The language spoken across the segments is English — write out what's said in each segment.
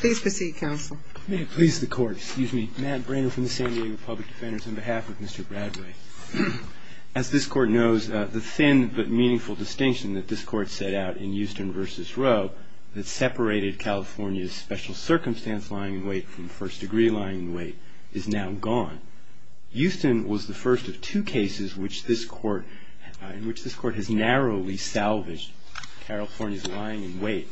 Please proceed counsel. May it please the court, excuse me, Matt Brannon from the San Diego Public Defenders on behalf of Mr. Bradway. As this court knows, the thin but meaningful distinction that this court set out in Houston v. Rowe that separated California's special circumstance lying in wait from first degree lying in wait is now gone. Houston was the first of two cases in which this court has narrowly salvaged California's lying in wait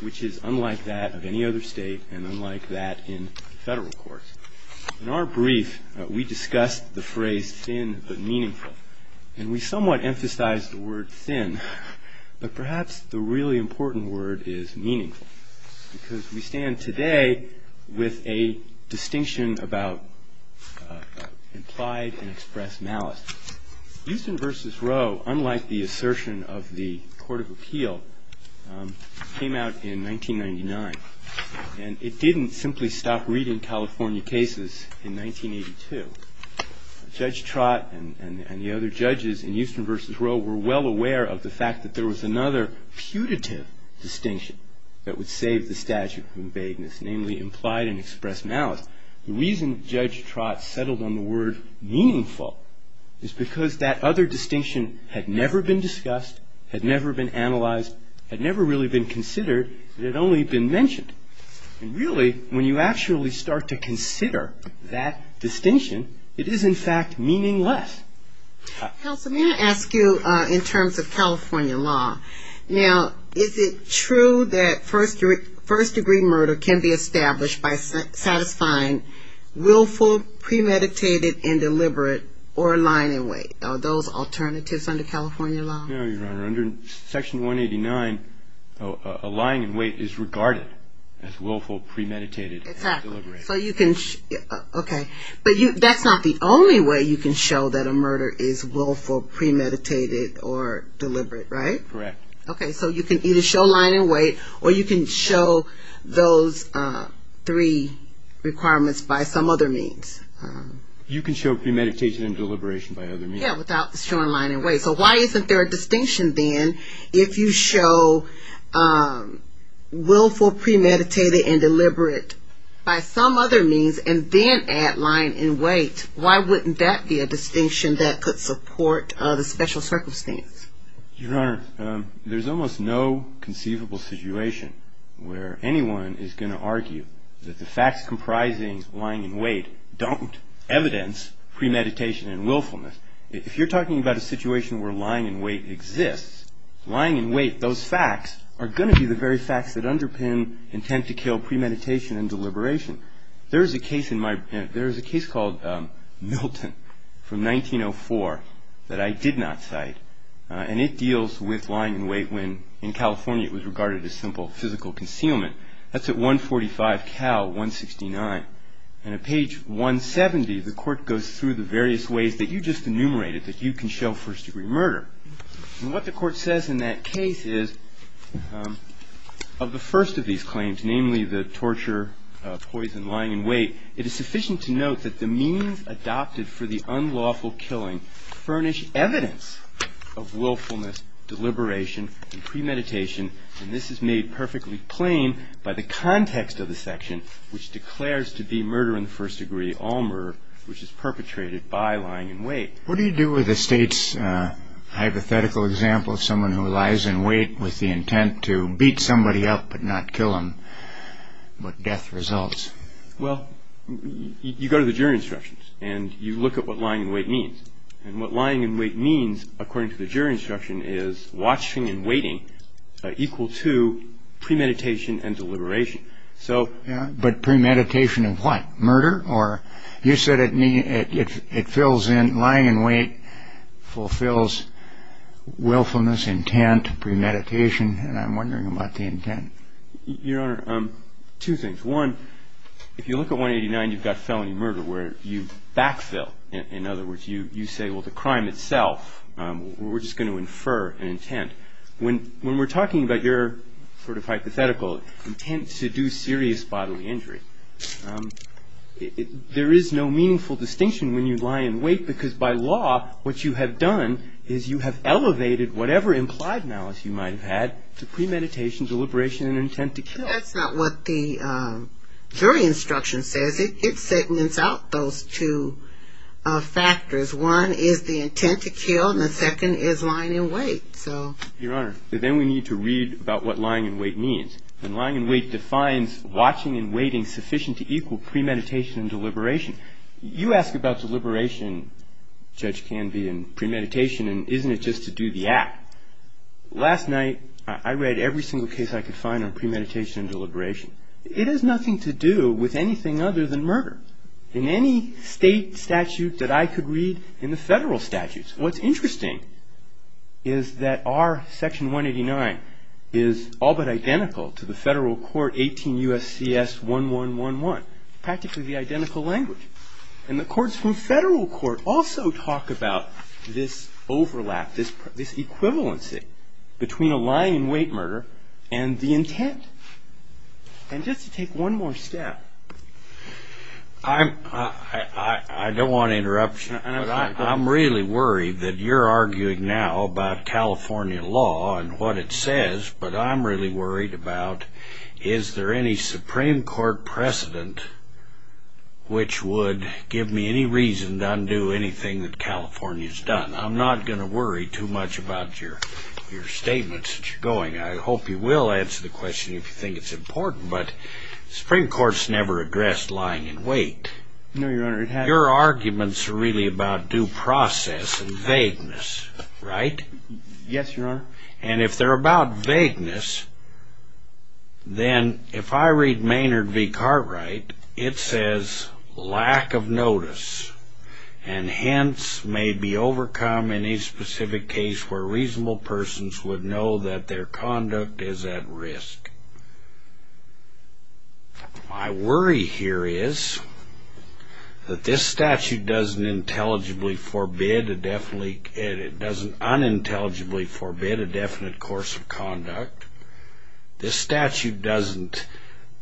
which is unlike that of any other state and unlike that in federal courts. In our brief, we discussed the phrase thin but meaningful and we somewhat emphasized the word thin but perhaps the really important word is meaningful because we stand today with a distinction about implied and expressed malice. Houston v. Rowe, unlike the assertion of the Court of Appeal, came out in 1999 and it didn't simply stop reading California cases in 1982. Judge Trott and the other judges in Houston v. Rowe were well aware of the fact that there was another putative distinction that would save the statute from vagueness, namely implied and expressed malice. The reason Judge Trott settled on the word meaningful is because that other distinction had never been discussed, had never been analyzed, had never really been considered. It had only been mentioned. And really, when you actually start to consider that distinction, it is in fact meaningless. Counsel, may I ask you in terms of California law, now is it true that first-degree murder can be established by satisfying willful, premeditated, and deliberate or lying in wait? Are those alternatives under California law? No, Your Honor. Under Section 189, a lying in wait is regarded as willful, premeditated, and deliberate. Okay, but that's not the only way you can show that a murder is willful, premeditated, or deliberate, right? Correct. Okay, so you can either show lying in wait or you can show those three requirements by some other means. You can show premeditation and deliberation by other means. Yeah, without showing lying in wait. Okay, so why isn't there a distinction then if you show willful, premeditated, and deliberate by some other means and then add lying in wait? Why wouldn't that be a distinction that could support the special circumstance? Your Honor, there's almost no conceivable situation where anyone is going to argue that the facts comprising lying in wait don't evidence premeditation and willfulness. If you're talking about a situation where lying in wait exists, lying in wait, those facts, are going to be the very facts that underpin intent to kill premeditation and deliberation. There is a case called Milton from 1904 that I did not cite. And it deals with lying in wait when in California it was regarded as simple physical concealment. That's at 145 Cal 169. And at page 170, the court goes through the various ways that you just enumerated, that you can show first-degree murder. And what the court says in that case is of the first of these claims, namely the torture, poison, lying in wait, it is sufficient to note that the means adopted for the unlawful killing furnish evidence of willfulness, deliberation, and premeditation. And this is made perfectly plain by the context of the section, which declares to be murder in the first degree, all murder, which is perpetrated by lying in wait. What do you do with the state's hypothetical example of someone who lies in wait with the intent to beat somebody up but not kill them, but death results? Well, you go to the jury instructions and you look at what lying in wait means. And what lying in wait means, according to the jury instruction, is watching and waiting equal to premeditation and deliberation. But premeditation and what, murder? Or you said it fills in lying in wait, fulfills willfulness, intent, premeditation. And I'm wondering about the intent. Your Honor, two things. One, if you look at 189, you've got felony murder where you backfill. In other words, you say, well, the crime itself, we're just going to infer an intent. When we're talking about your sort of hypothetical intent to do serious bodily injury, there is no meaningful distinction when you lie in wait because, by law, what you have done is you have elevated whatever implied malice you might have had to premeditation, deliberation, and intent to kill. That's not what the jury instruction says. It segments out those two factors. One is the intent to kill, and the second is lying in wait. Your Honor, then we need to read about what lying in wait means. And lying in wait defines watching and waiting sufficient to equal premeditation and deliberation. You ask about deliberation, Judge Canvey, and premeditation, and isn't it just to do the act? Last night, I read every single case I could find on premeditation and deliberation. It has nothing to do with anything other than murder. In any state statute that I could read in the federal statutes, what's interesting is that our Section 189 is all but identical to the federal court 18 U.S.C.S. 1111. Practically the identical language. And the courts from federal court also talk about this overlap, this equivalency, between a lying in wait murder and the intent. And just to take one more step. I don't want an interruption. I'm really worried that you're arguing now about California law and what it says, but I'm really worried about is there any Supreme Court precedent which would give me any reason to undo anything that California's done. I'm not going to worry too much about your statements as you're going. I hope you will answer the question if you think it's important, but the Supreme Court's never addressed lying in wait. No, Your Honor, it hasn't. Your arguments are really about due process and vagueness, right? Yes, Your Honor. And if they're about vagueness, then if I read Maynard v. Cartwright, it says, lack of notice and hints may be overcome in any specific case where reasonable persons would know that their conduct is at risk. My worry here is that this statute doesn't intelligibly forbid, it doesn't unintelligibly forbid a definite course of conduct. This statute doesn't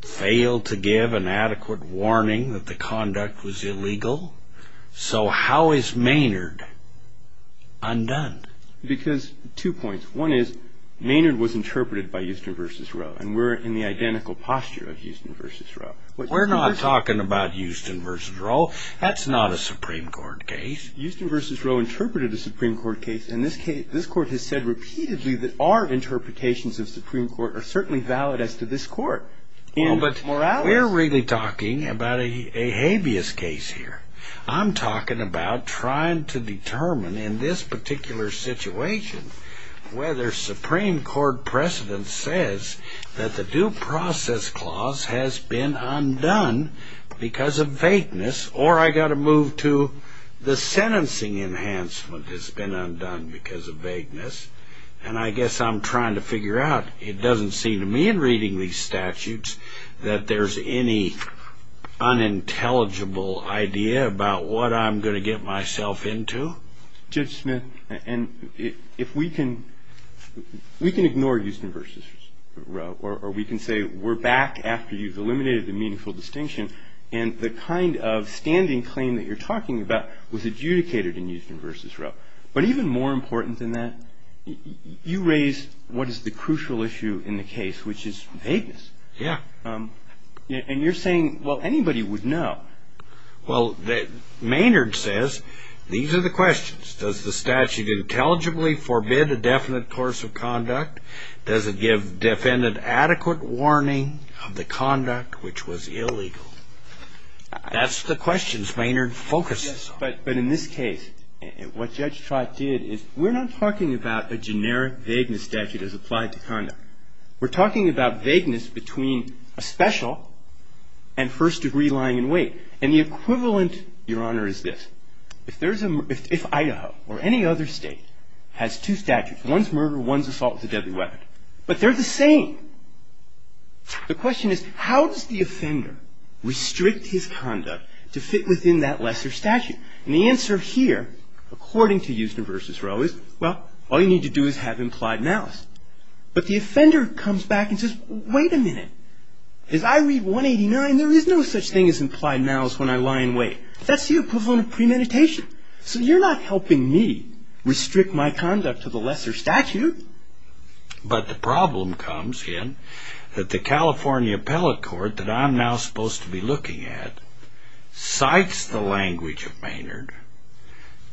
fail to give an adequate warning that the conduct was illegal. So how is Maynard undone? Because two points. One is Maynard was interpreted by Houston v. Roe, and we're in the identical posture of Houston v. Roe. We're not talking about Houston v. Roe. That's not a Supreme Court case. Houston v. Roe interpreted a Supreme Court case, and this Court has said repeatedly that our interpretations of Supreme Court are certainly valid as to this Court. But we're really talking about a habeas case here. I'm talking about trying to determine in this particular situation whether Supreme Court precedent says that the due process clause has been undone because of vagueness, or I've got to move to the sentencing enhancement has been undone because of vagueness. And I guess I'm trying to figure out, it doesn't seem to me in reading these statutes, that there's any unintelligible idea about what I'm going to get myself into. Judge Smith, if we can ignore Houston v. Roe, or we can say we're back after you've eliminated the meaningful distinction, and the kind of standing claim that you're talking about was adjudicated in Houston v. Roe, but even more important than that, you raise what is the crucial issue in the case, which is vagueness. Yeah. And you're saying, well, anybody would know. Well, Maynard says these are the questions. Does the statute intelligibly forbid a definite course of conduct? Does it give defendant adequate warning of the conduct which was illegal? That's the questions Maynard focuses on. But in this case, what Judge Trott did is we're not talking about a generic vagueness statute as applied to conduct. We're talking about vagueness between a special and first degree lying in wait. And the equivalent, Your Honor, is this. If Idaho or any other state has two statutes, one's murder, one's assault with a deadly weapon, but they're the same. The question is, how does the offender restrict his conduct to fit within that lesser statute? And the answer here, according to Houston v. Roe, is, well, all you need to do is have implied malice. But the offender comes back and says, wait a minute. As I read 189, there is no such thing as implied malice when I lie in wait. That's the equivalent of premeditation. So you're not helping me restrict my conduct to the lesser statute. But the problem comes in that the California appellate court that I'm now supposed to be looking at cites the language of Maynard,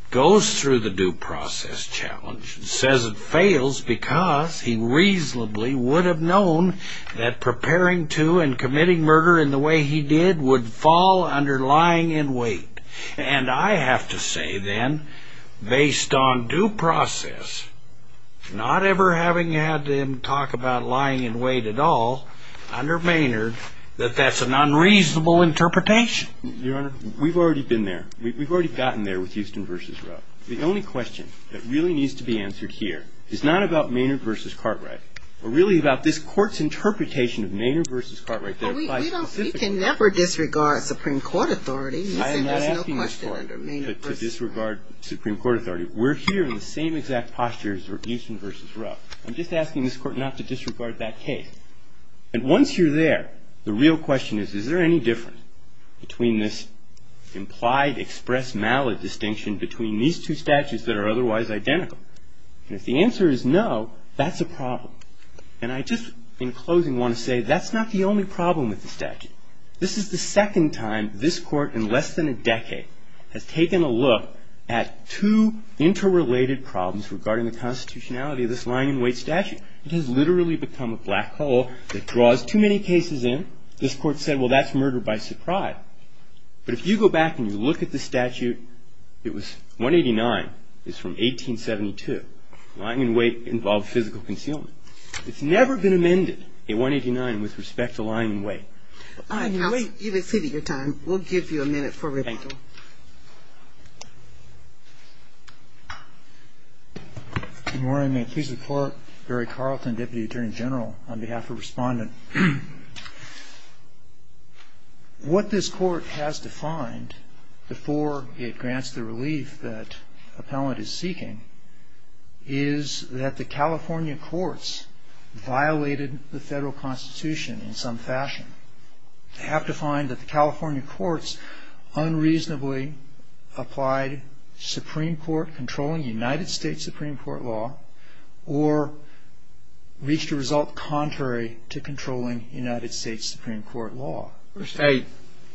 goes through the due process challenge, and says it fails because he reasonably would have known that preparing to and committing murder in the way he did would fall under lying in wait. And I have to say, then, based on due process, not ever having had him talk about lying in wait at all under Maynard, that that's an unreasonable interpretation. Your Honor, we've already been there. We've already gotten there with Houston v. Roe. The only question that really needs to be answered here is not about Maynard v. Cartwright, but really about this court's interpretation of Maynard v. Cartwright. We can never disregard Supreme Court authority. I am not asking this Court to disregard Supreme Court authority. We're here in the same exact posture as Houston v. Roe. I'm just asking this Court not to disregard that case. And once you're there, the real question is, is there any difference between this implied expressed malice distinction between these two statutes that are otherwise identical? And if the answer is no, that's a problem. And I just, in closing, want to say that's not the only problem with the statute. This is the second time this Court in less than a decade has taken a look at two interrelated problems regarding the constitutionality of this lying in wait statute. It has literally become a black hole that draws too many cases in. This Court said, well, that's murder by surprise. But if you go back and you look at the statute, it was 189, it's from 1872. Lying in wait involved physical concealment. It's never been amended in 189 with respect to lying in wait. Counsel, you've exceeded your time. We'll give you a minute for rebuttal. Thank you. Good morning. May I please report? Barry Carlton, Deputy Attorney General, on behalf of Respondent. What this Court has defined before it grants the relief that appellant is seeking is that the California courts violated the federal constitution in some fashion. They have to find that the California courts unreasonably applied Supreme Court, controlling United States Supreme Court law, or reached a result contrary to controlling United States Supreme Court law.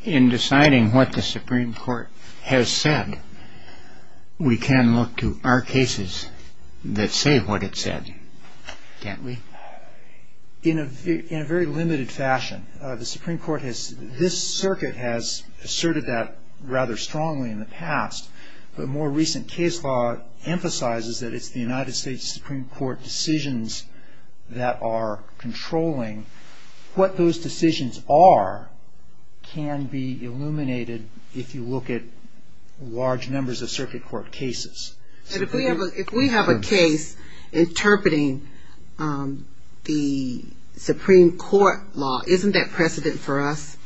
In deciding what the Supreme Court has said, we can look to our cases that say what it said, can't we? In a very limited fashion. The Supreme Court has, this circuit has asserted that rather strongly in the past, but more recent case law emphasizes that it's the United States Supreme Court decisions that are controlling what those decisions are can be illuminated if you look at large numbers of circuit court cases. If we have a case interpreting the Supreme Court law, isn't that precedent for us?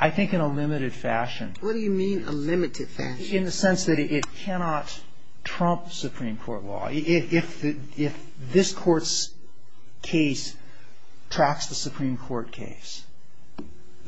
I think in a limited fashion. What do you mean a limited fashion? In the sense that it cannot trump Supreme Court law. If this Court's case tracks the Supreme Court case,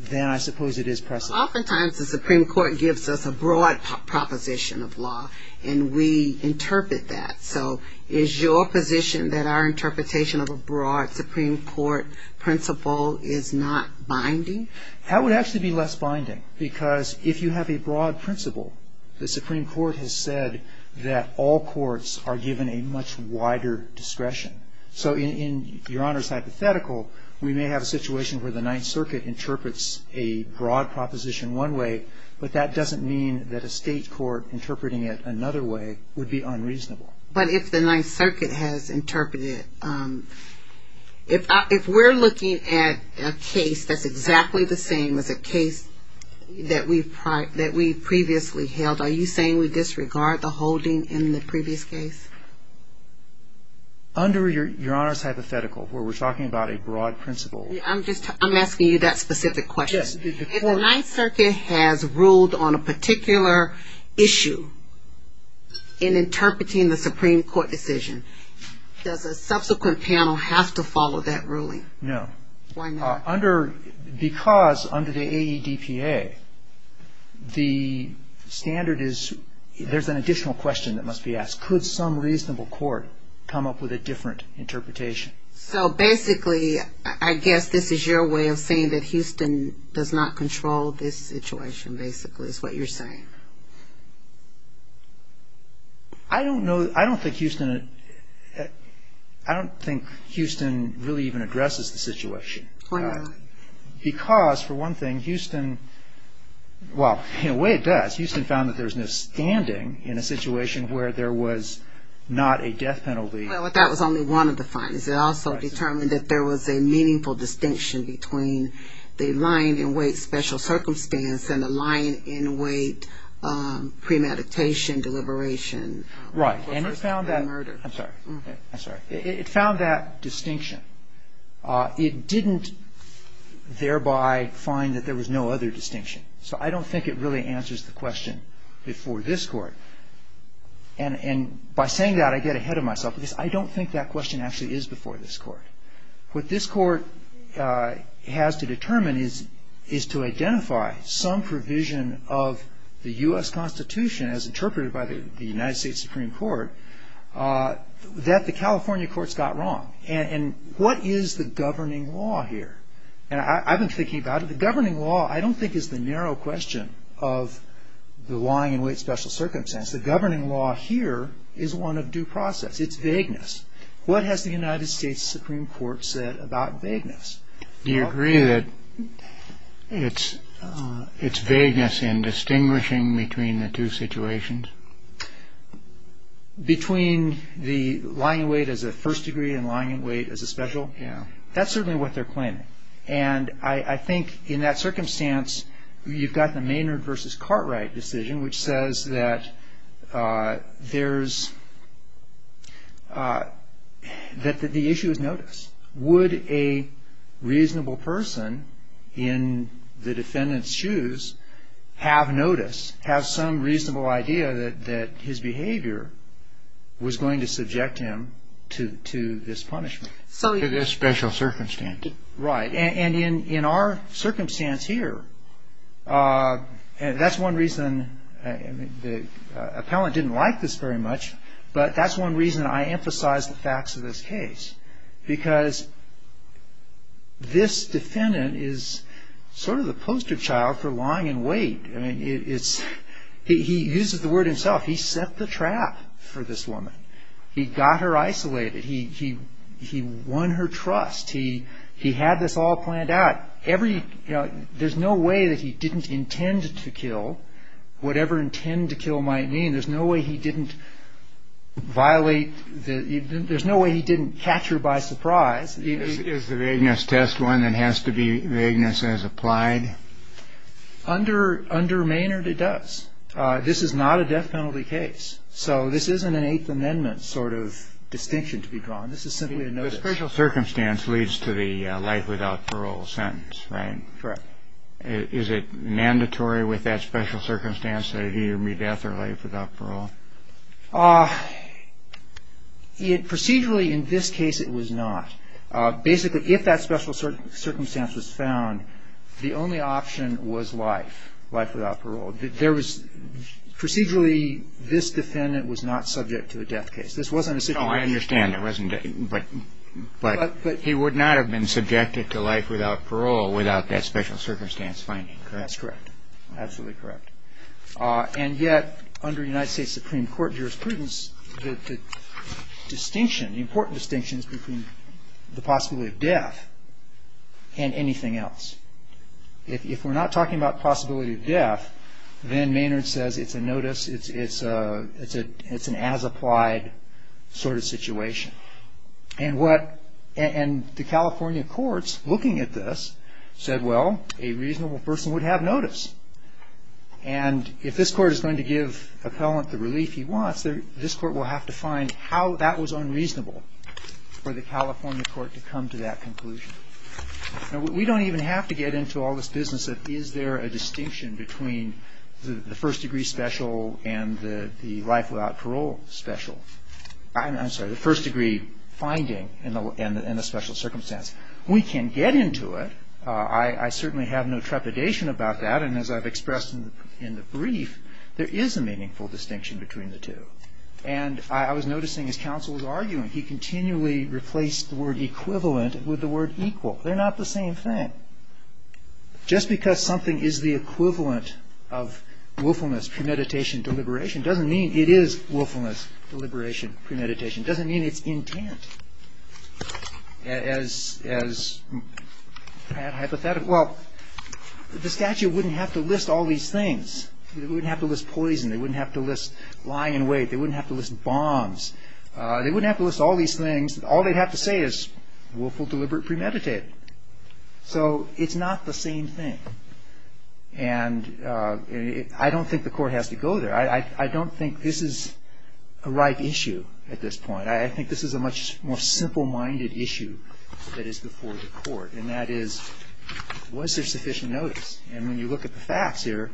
then I suppose it is precedent. Oftentimes the Supreme Court gives us a broad proposition of law and we interpret that. So is your position that our interpretation of a broad Supreme Court principle is not binding? That would actually be less binding because if you have a broad principle, the Supreme Court has said that all courts are given a much wider discretion. So in Your Honor's hypothetical, we may have a situation where the Ninth Circuit interprets a broad proposition one way, but that doesn't mean that a state court interpreting it another way would be unreasonable. But if the Ninth Circuit has interpreted, if we're looking at a case that's exactly the same as a case that we previously held, are you saying we disregard the holding in the previous case? Under Your Honor's hypothetical, where we're talking about a broad principle. I'm asking you that specific question. Yes. If the Ninth Circuit has ruled on a particular issue in interpreting the Supreme Court decision, does a subsequent panel have to follow that ruling? No. Why not? Because under the AEDPA, the standard is there's an additional question that must be asked. Could some reasonable court come up with a different interpretation? So basically, I guess this is your way of saying that Houston does not control this situation, basically is what you're saying. I don't know, I don't think Houston, I don't think Houston really even addresses the situation. Why not? Because, for one thing, Houston, well, in a way it does. Houston found that there's no standing in a situation where there was not a death penalty. Well, that was only one of the findings. It also determined that there was a meaningful distinction between the line-in-wait special circumstance and the line-in-wait premeditation deliberation. Right. And it found that. I'm sorry. I'm sorry. It found that distinction. It didn't thereby find that there was no other distinction. So I don't think it really answers the question before this Court. And by saying that, I get ahead of myself because I don't think that question actually is before this Court. What this Court has to determine is to identify some provision of the U.S. Constitution, as interpreted by the United States Supreme Court, that the California courts got wrong. And what is the governing law here? And I've been thinking about it. The governing law, I don't think, is the narrow question of the line-in-wait special circumstance. The governing law here is one of due process. It's vagueness. What has the United States Supreme Court said about vagueness? Do you agree that it's vagueness in distinguishing between the two situations? Between the line-in-wait as a first degree and line-in-wait as a special? Yeah. That's certainly what they're claiming. And I think in that circumstance, you've got the Maynard v. Cartwright decision, which says that the issue is notice. Would a reasonable person in the defendant's shoes have notice, have some reasonable idea that his behavior was going to subject him to this punishment? To this special circumstance. Right. And in our circumstance here, that's one reason the appellant didn't like this very much, but that's one reason I emphasize the facts of this case, because this defendant is sort of the poster child for line-in-wait. I mean, he uses the word himself. He set the trap for this woman. He got her isolated. He won her trust. He had this all planned out. There's no way that he didn't intend to kill, whatever intend to kill might mean. There's no way he didn't catch her by surprise. Is the vagueness test one that has to be vagueness as applied? Under Maynard, it does. This is not a death penalty case. So this isn't an Eighth Amendment sort of distinction to be drawn. This is simply a notice. The special circumstance leads to the life without parole sentence, right? Correct. Is it mandatory with that special circumstance that he or me death or life without parole? Procedurally, in this case, it was not. Basically, if that special circumstance was found, the only option was life, life without parole. Procedurally, this defendant was not subject to a death case. No, I understand. But he would not have been subjected to life without parole without that special circumstance finding, correct? That's correct. Absolutely correct. And yet, under United States Supreme Court jurisprudence, the distinction, the important distinction is between the possibility of death and anything else. If we're not talking about possibility of death, then Maynard says it's a notice. It's an as-applied sort of situation. And the California courts, looking at this, said, well, a reasonable person would have notice. And if this court is going to give appellant the relief he wants, this court will have to find how that was unreasonable for the California court to come to that conclusion. Now, we don't even have to get into all this business of is there a distinction between the first-degree special and the life without parole special. I'm sorry, the first-degree finding and the special circumstance. We can get into it. I certainly have no trepidation about that. And as I've expressed in the brief, there is a meaningful distinction between the two. And I was noticing, as counsel was arguing, he continually replaced the word equivalent with the word equal. They're not the same thing. Just because something is the equivalent of willfulness, premeditation, deliberation, doesn't mean it is willfulness, deliberation, premeditation. It doesn't mean it's intent. Well, the statute wouldn't have to list all these things. They wouldn't have to list poison. They wouldn't have to list lying in wait. They wouldn't have to list bombs. They wouldn't have to list all these things. All they'd have to say is willful, deliberate, premeditated. So it's not the same thing. And I don't think the court has to go there. I don't think this is a right issue at this point. I think this is a much more simple-minded issue that is before the court. And that is, was there sufficient notice? And when you look at the facts here,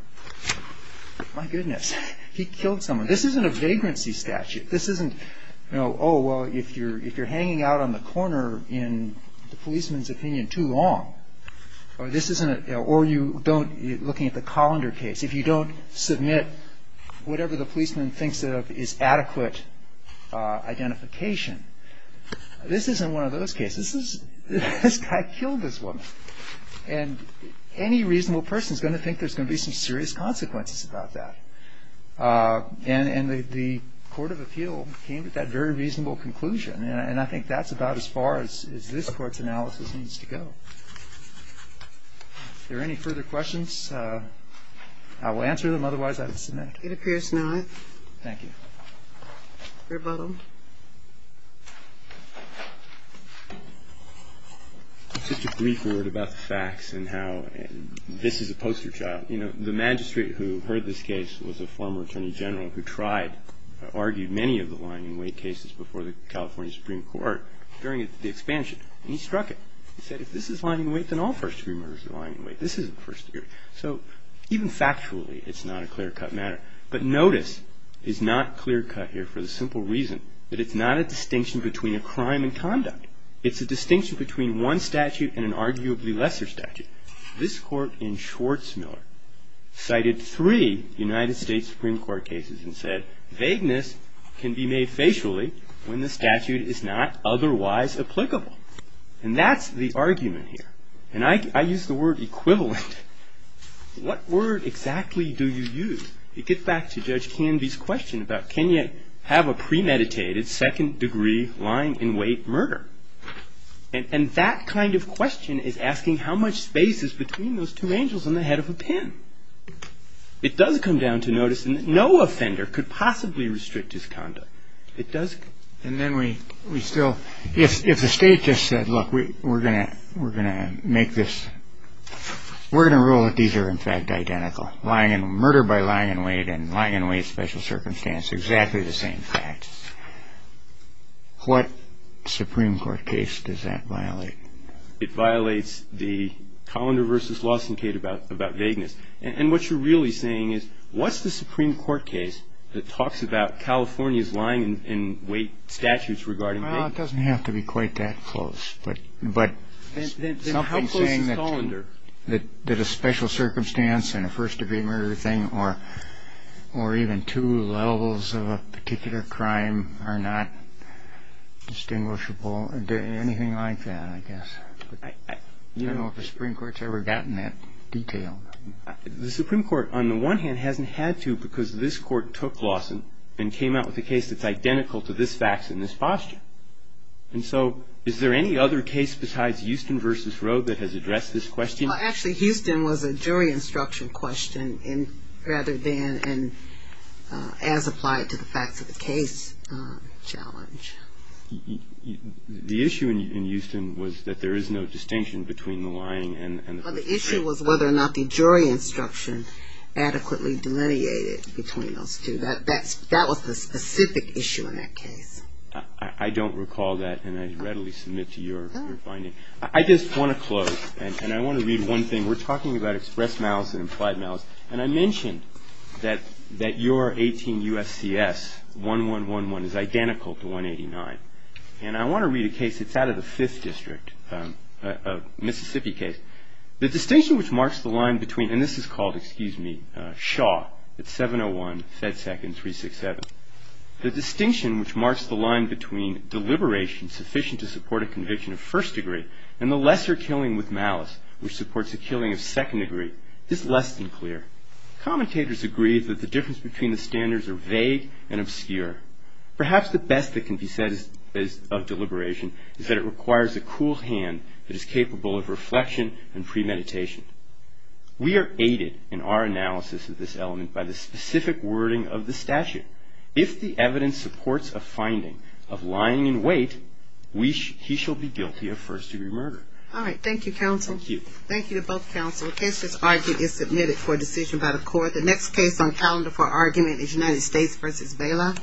my goodness, he killed someone. This isn't a vagrancy statute. This isn't, oh, well, if you're hanging out on the corner in the policeman's opinion too long, or you don't, looking at the Colander case, if you don't submit whatever the policeman thinks is adequate identification, this isn't one of those cases. This guy killed this woman. And any reasonable person is going to think there's going to be some serious consequences about that. And the court of appeal came to that very reasonable conclusion. And I think that's about as far as this Court's analysis needs to go. Are there any further questions? I will answer them. Otherwise, I will submit. It appears not. Thank you. Rebuttal. Just a brief word about the facts and how this is a poster child. You know, the magistrate who heard this case was a former attorney general who tried, argued many of the lying-in-wait cases before the California Supreme Court during the expansion. And he struck it. He said, if this is lying-in-wait, then all first-degree murders are lying-in-wait. This isn't first-degree. So even factually, it's not a clear-cut matter. But notice, it's not clear-cut here for the simple reason that it's not a distinction between a crime and conduct. It's a distinction between one statute and an arguably lesser statute. This Court in Schwarzmiller cited three United States Supreme Court cases and said, vagueness can be made facially when the statute is not otherwise applicable. And that's the argument here. And I use the word equivalent. What word exactly do you use to get back to Judge Canvey's question about, can you have a premeditated second-degree lying-in-wait murder? And that kind of question is asking how much space is between those two angels and the head of a pen. It does come down to noticing that no offender could possibly restrict his conduct. It does. And then we still, if the state just said, look, we're going to make this, we're going to rule that these are, in fact, identical. Murder by lying-in-wait and lying-in-wait special circumstance, exactly the same fact. What Supreme Court case does that violate? It violates the Colander v. Lawson case about vagueness. And what you're really saying is, what's the Supreme Court case that talks about California's lying-in-wait statutes regarding vagueness? Well, it doesn't have to be quite that close. But something saying that a special circumstance and a first-degree murder thing or even two levels of a particular crime are not distinguishable, anything like that, I guess. I don't know if the Supreme Court's ever gotten that detail. The Supreme Court, on the one hand, hasn't had to because this Court took Lawson and came out with a case that's identical to this fact and this posture. And so is there any other case besides Houston v. Rode that has addressed this question? Actually, Houston was a jury instruction question rather than as applied to the facts of the case challenge. The issue in Houston was that there is no distinction between the lying and the first degree. Well, the issue was whether or not the jury instruction adequately delineated between those two. That was the specific issue in that case. I don't recall that, and I readily submit to your finding. I just want to close, and I want to read one thing. We're talking about express malice and implied malice. And I mentioned that your 18 U.S.C.S., 1111, is identical to 189. And I want to read a case that's out of the Fifth District, a Mississippi case. The distinction which marks the line between, and this is called, excuse me, Shaw. It's 701, Fed Second, 367. The distinction which marks the line between deliberation sufficient to support a conviction of first degree and the lesser killing with malice which supports a killing of second degree is less than clear. Commentators agree that the difference between the standards are vague and obscure. Perhaps the best that can be said of deliberation is that it requires a cool hand that is capable of reflection and premeditation. We are aided in our analysis of this element by the specific wording of the statute. If the evidence supports a finding of lying in wait, he shall be guilty of first degree murder. All right. Thank you, counsel. Thank you. Thank you to both counsel. The case that's argued is submitted for decision by the court. The next case on calendar for argument is United States v. Bala.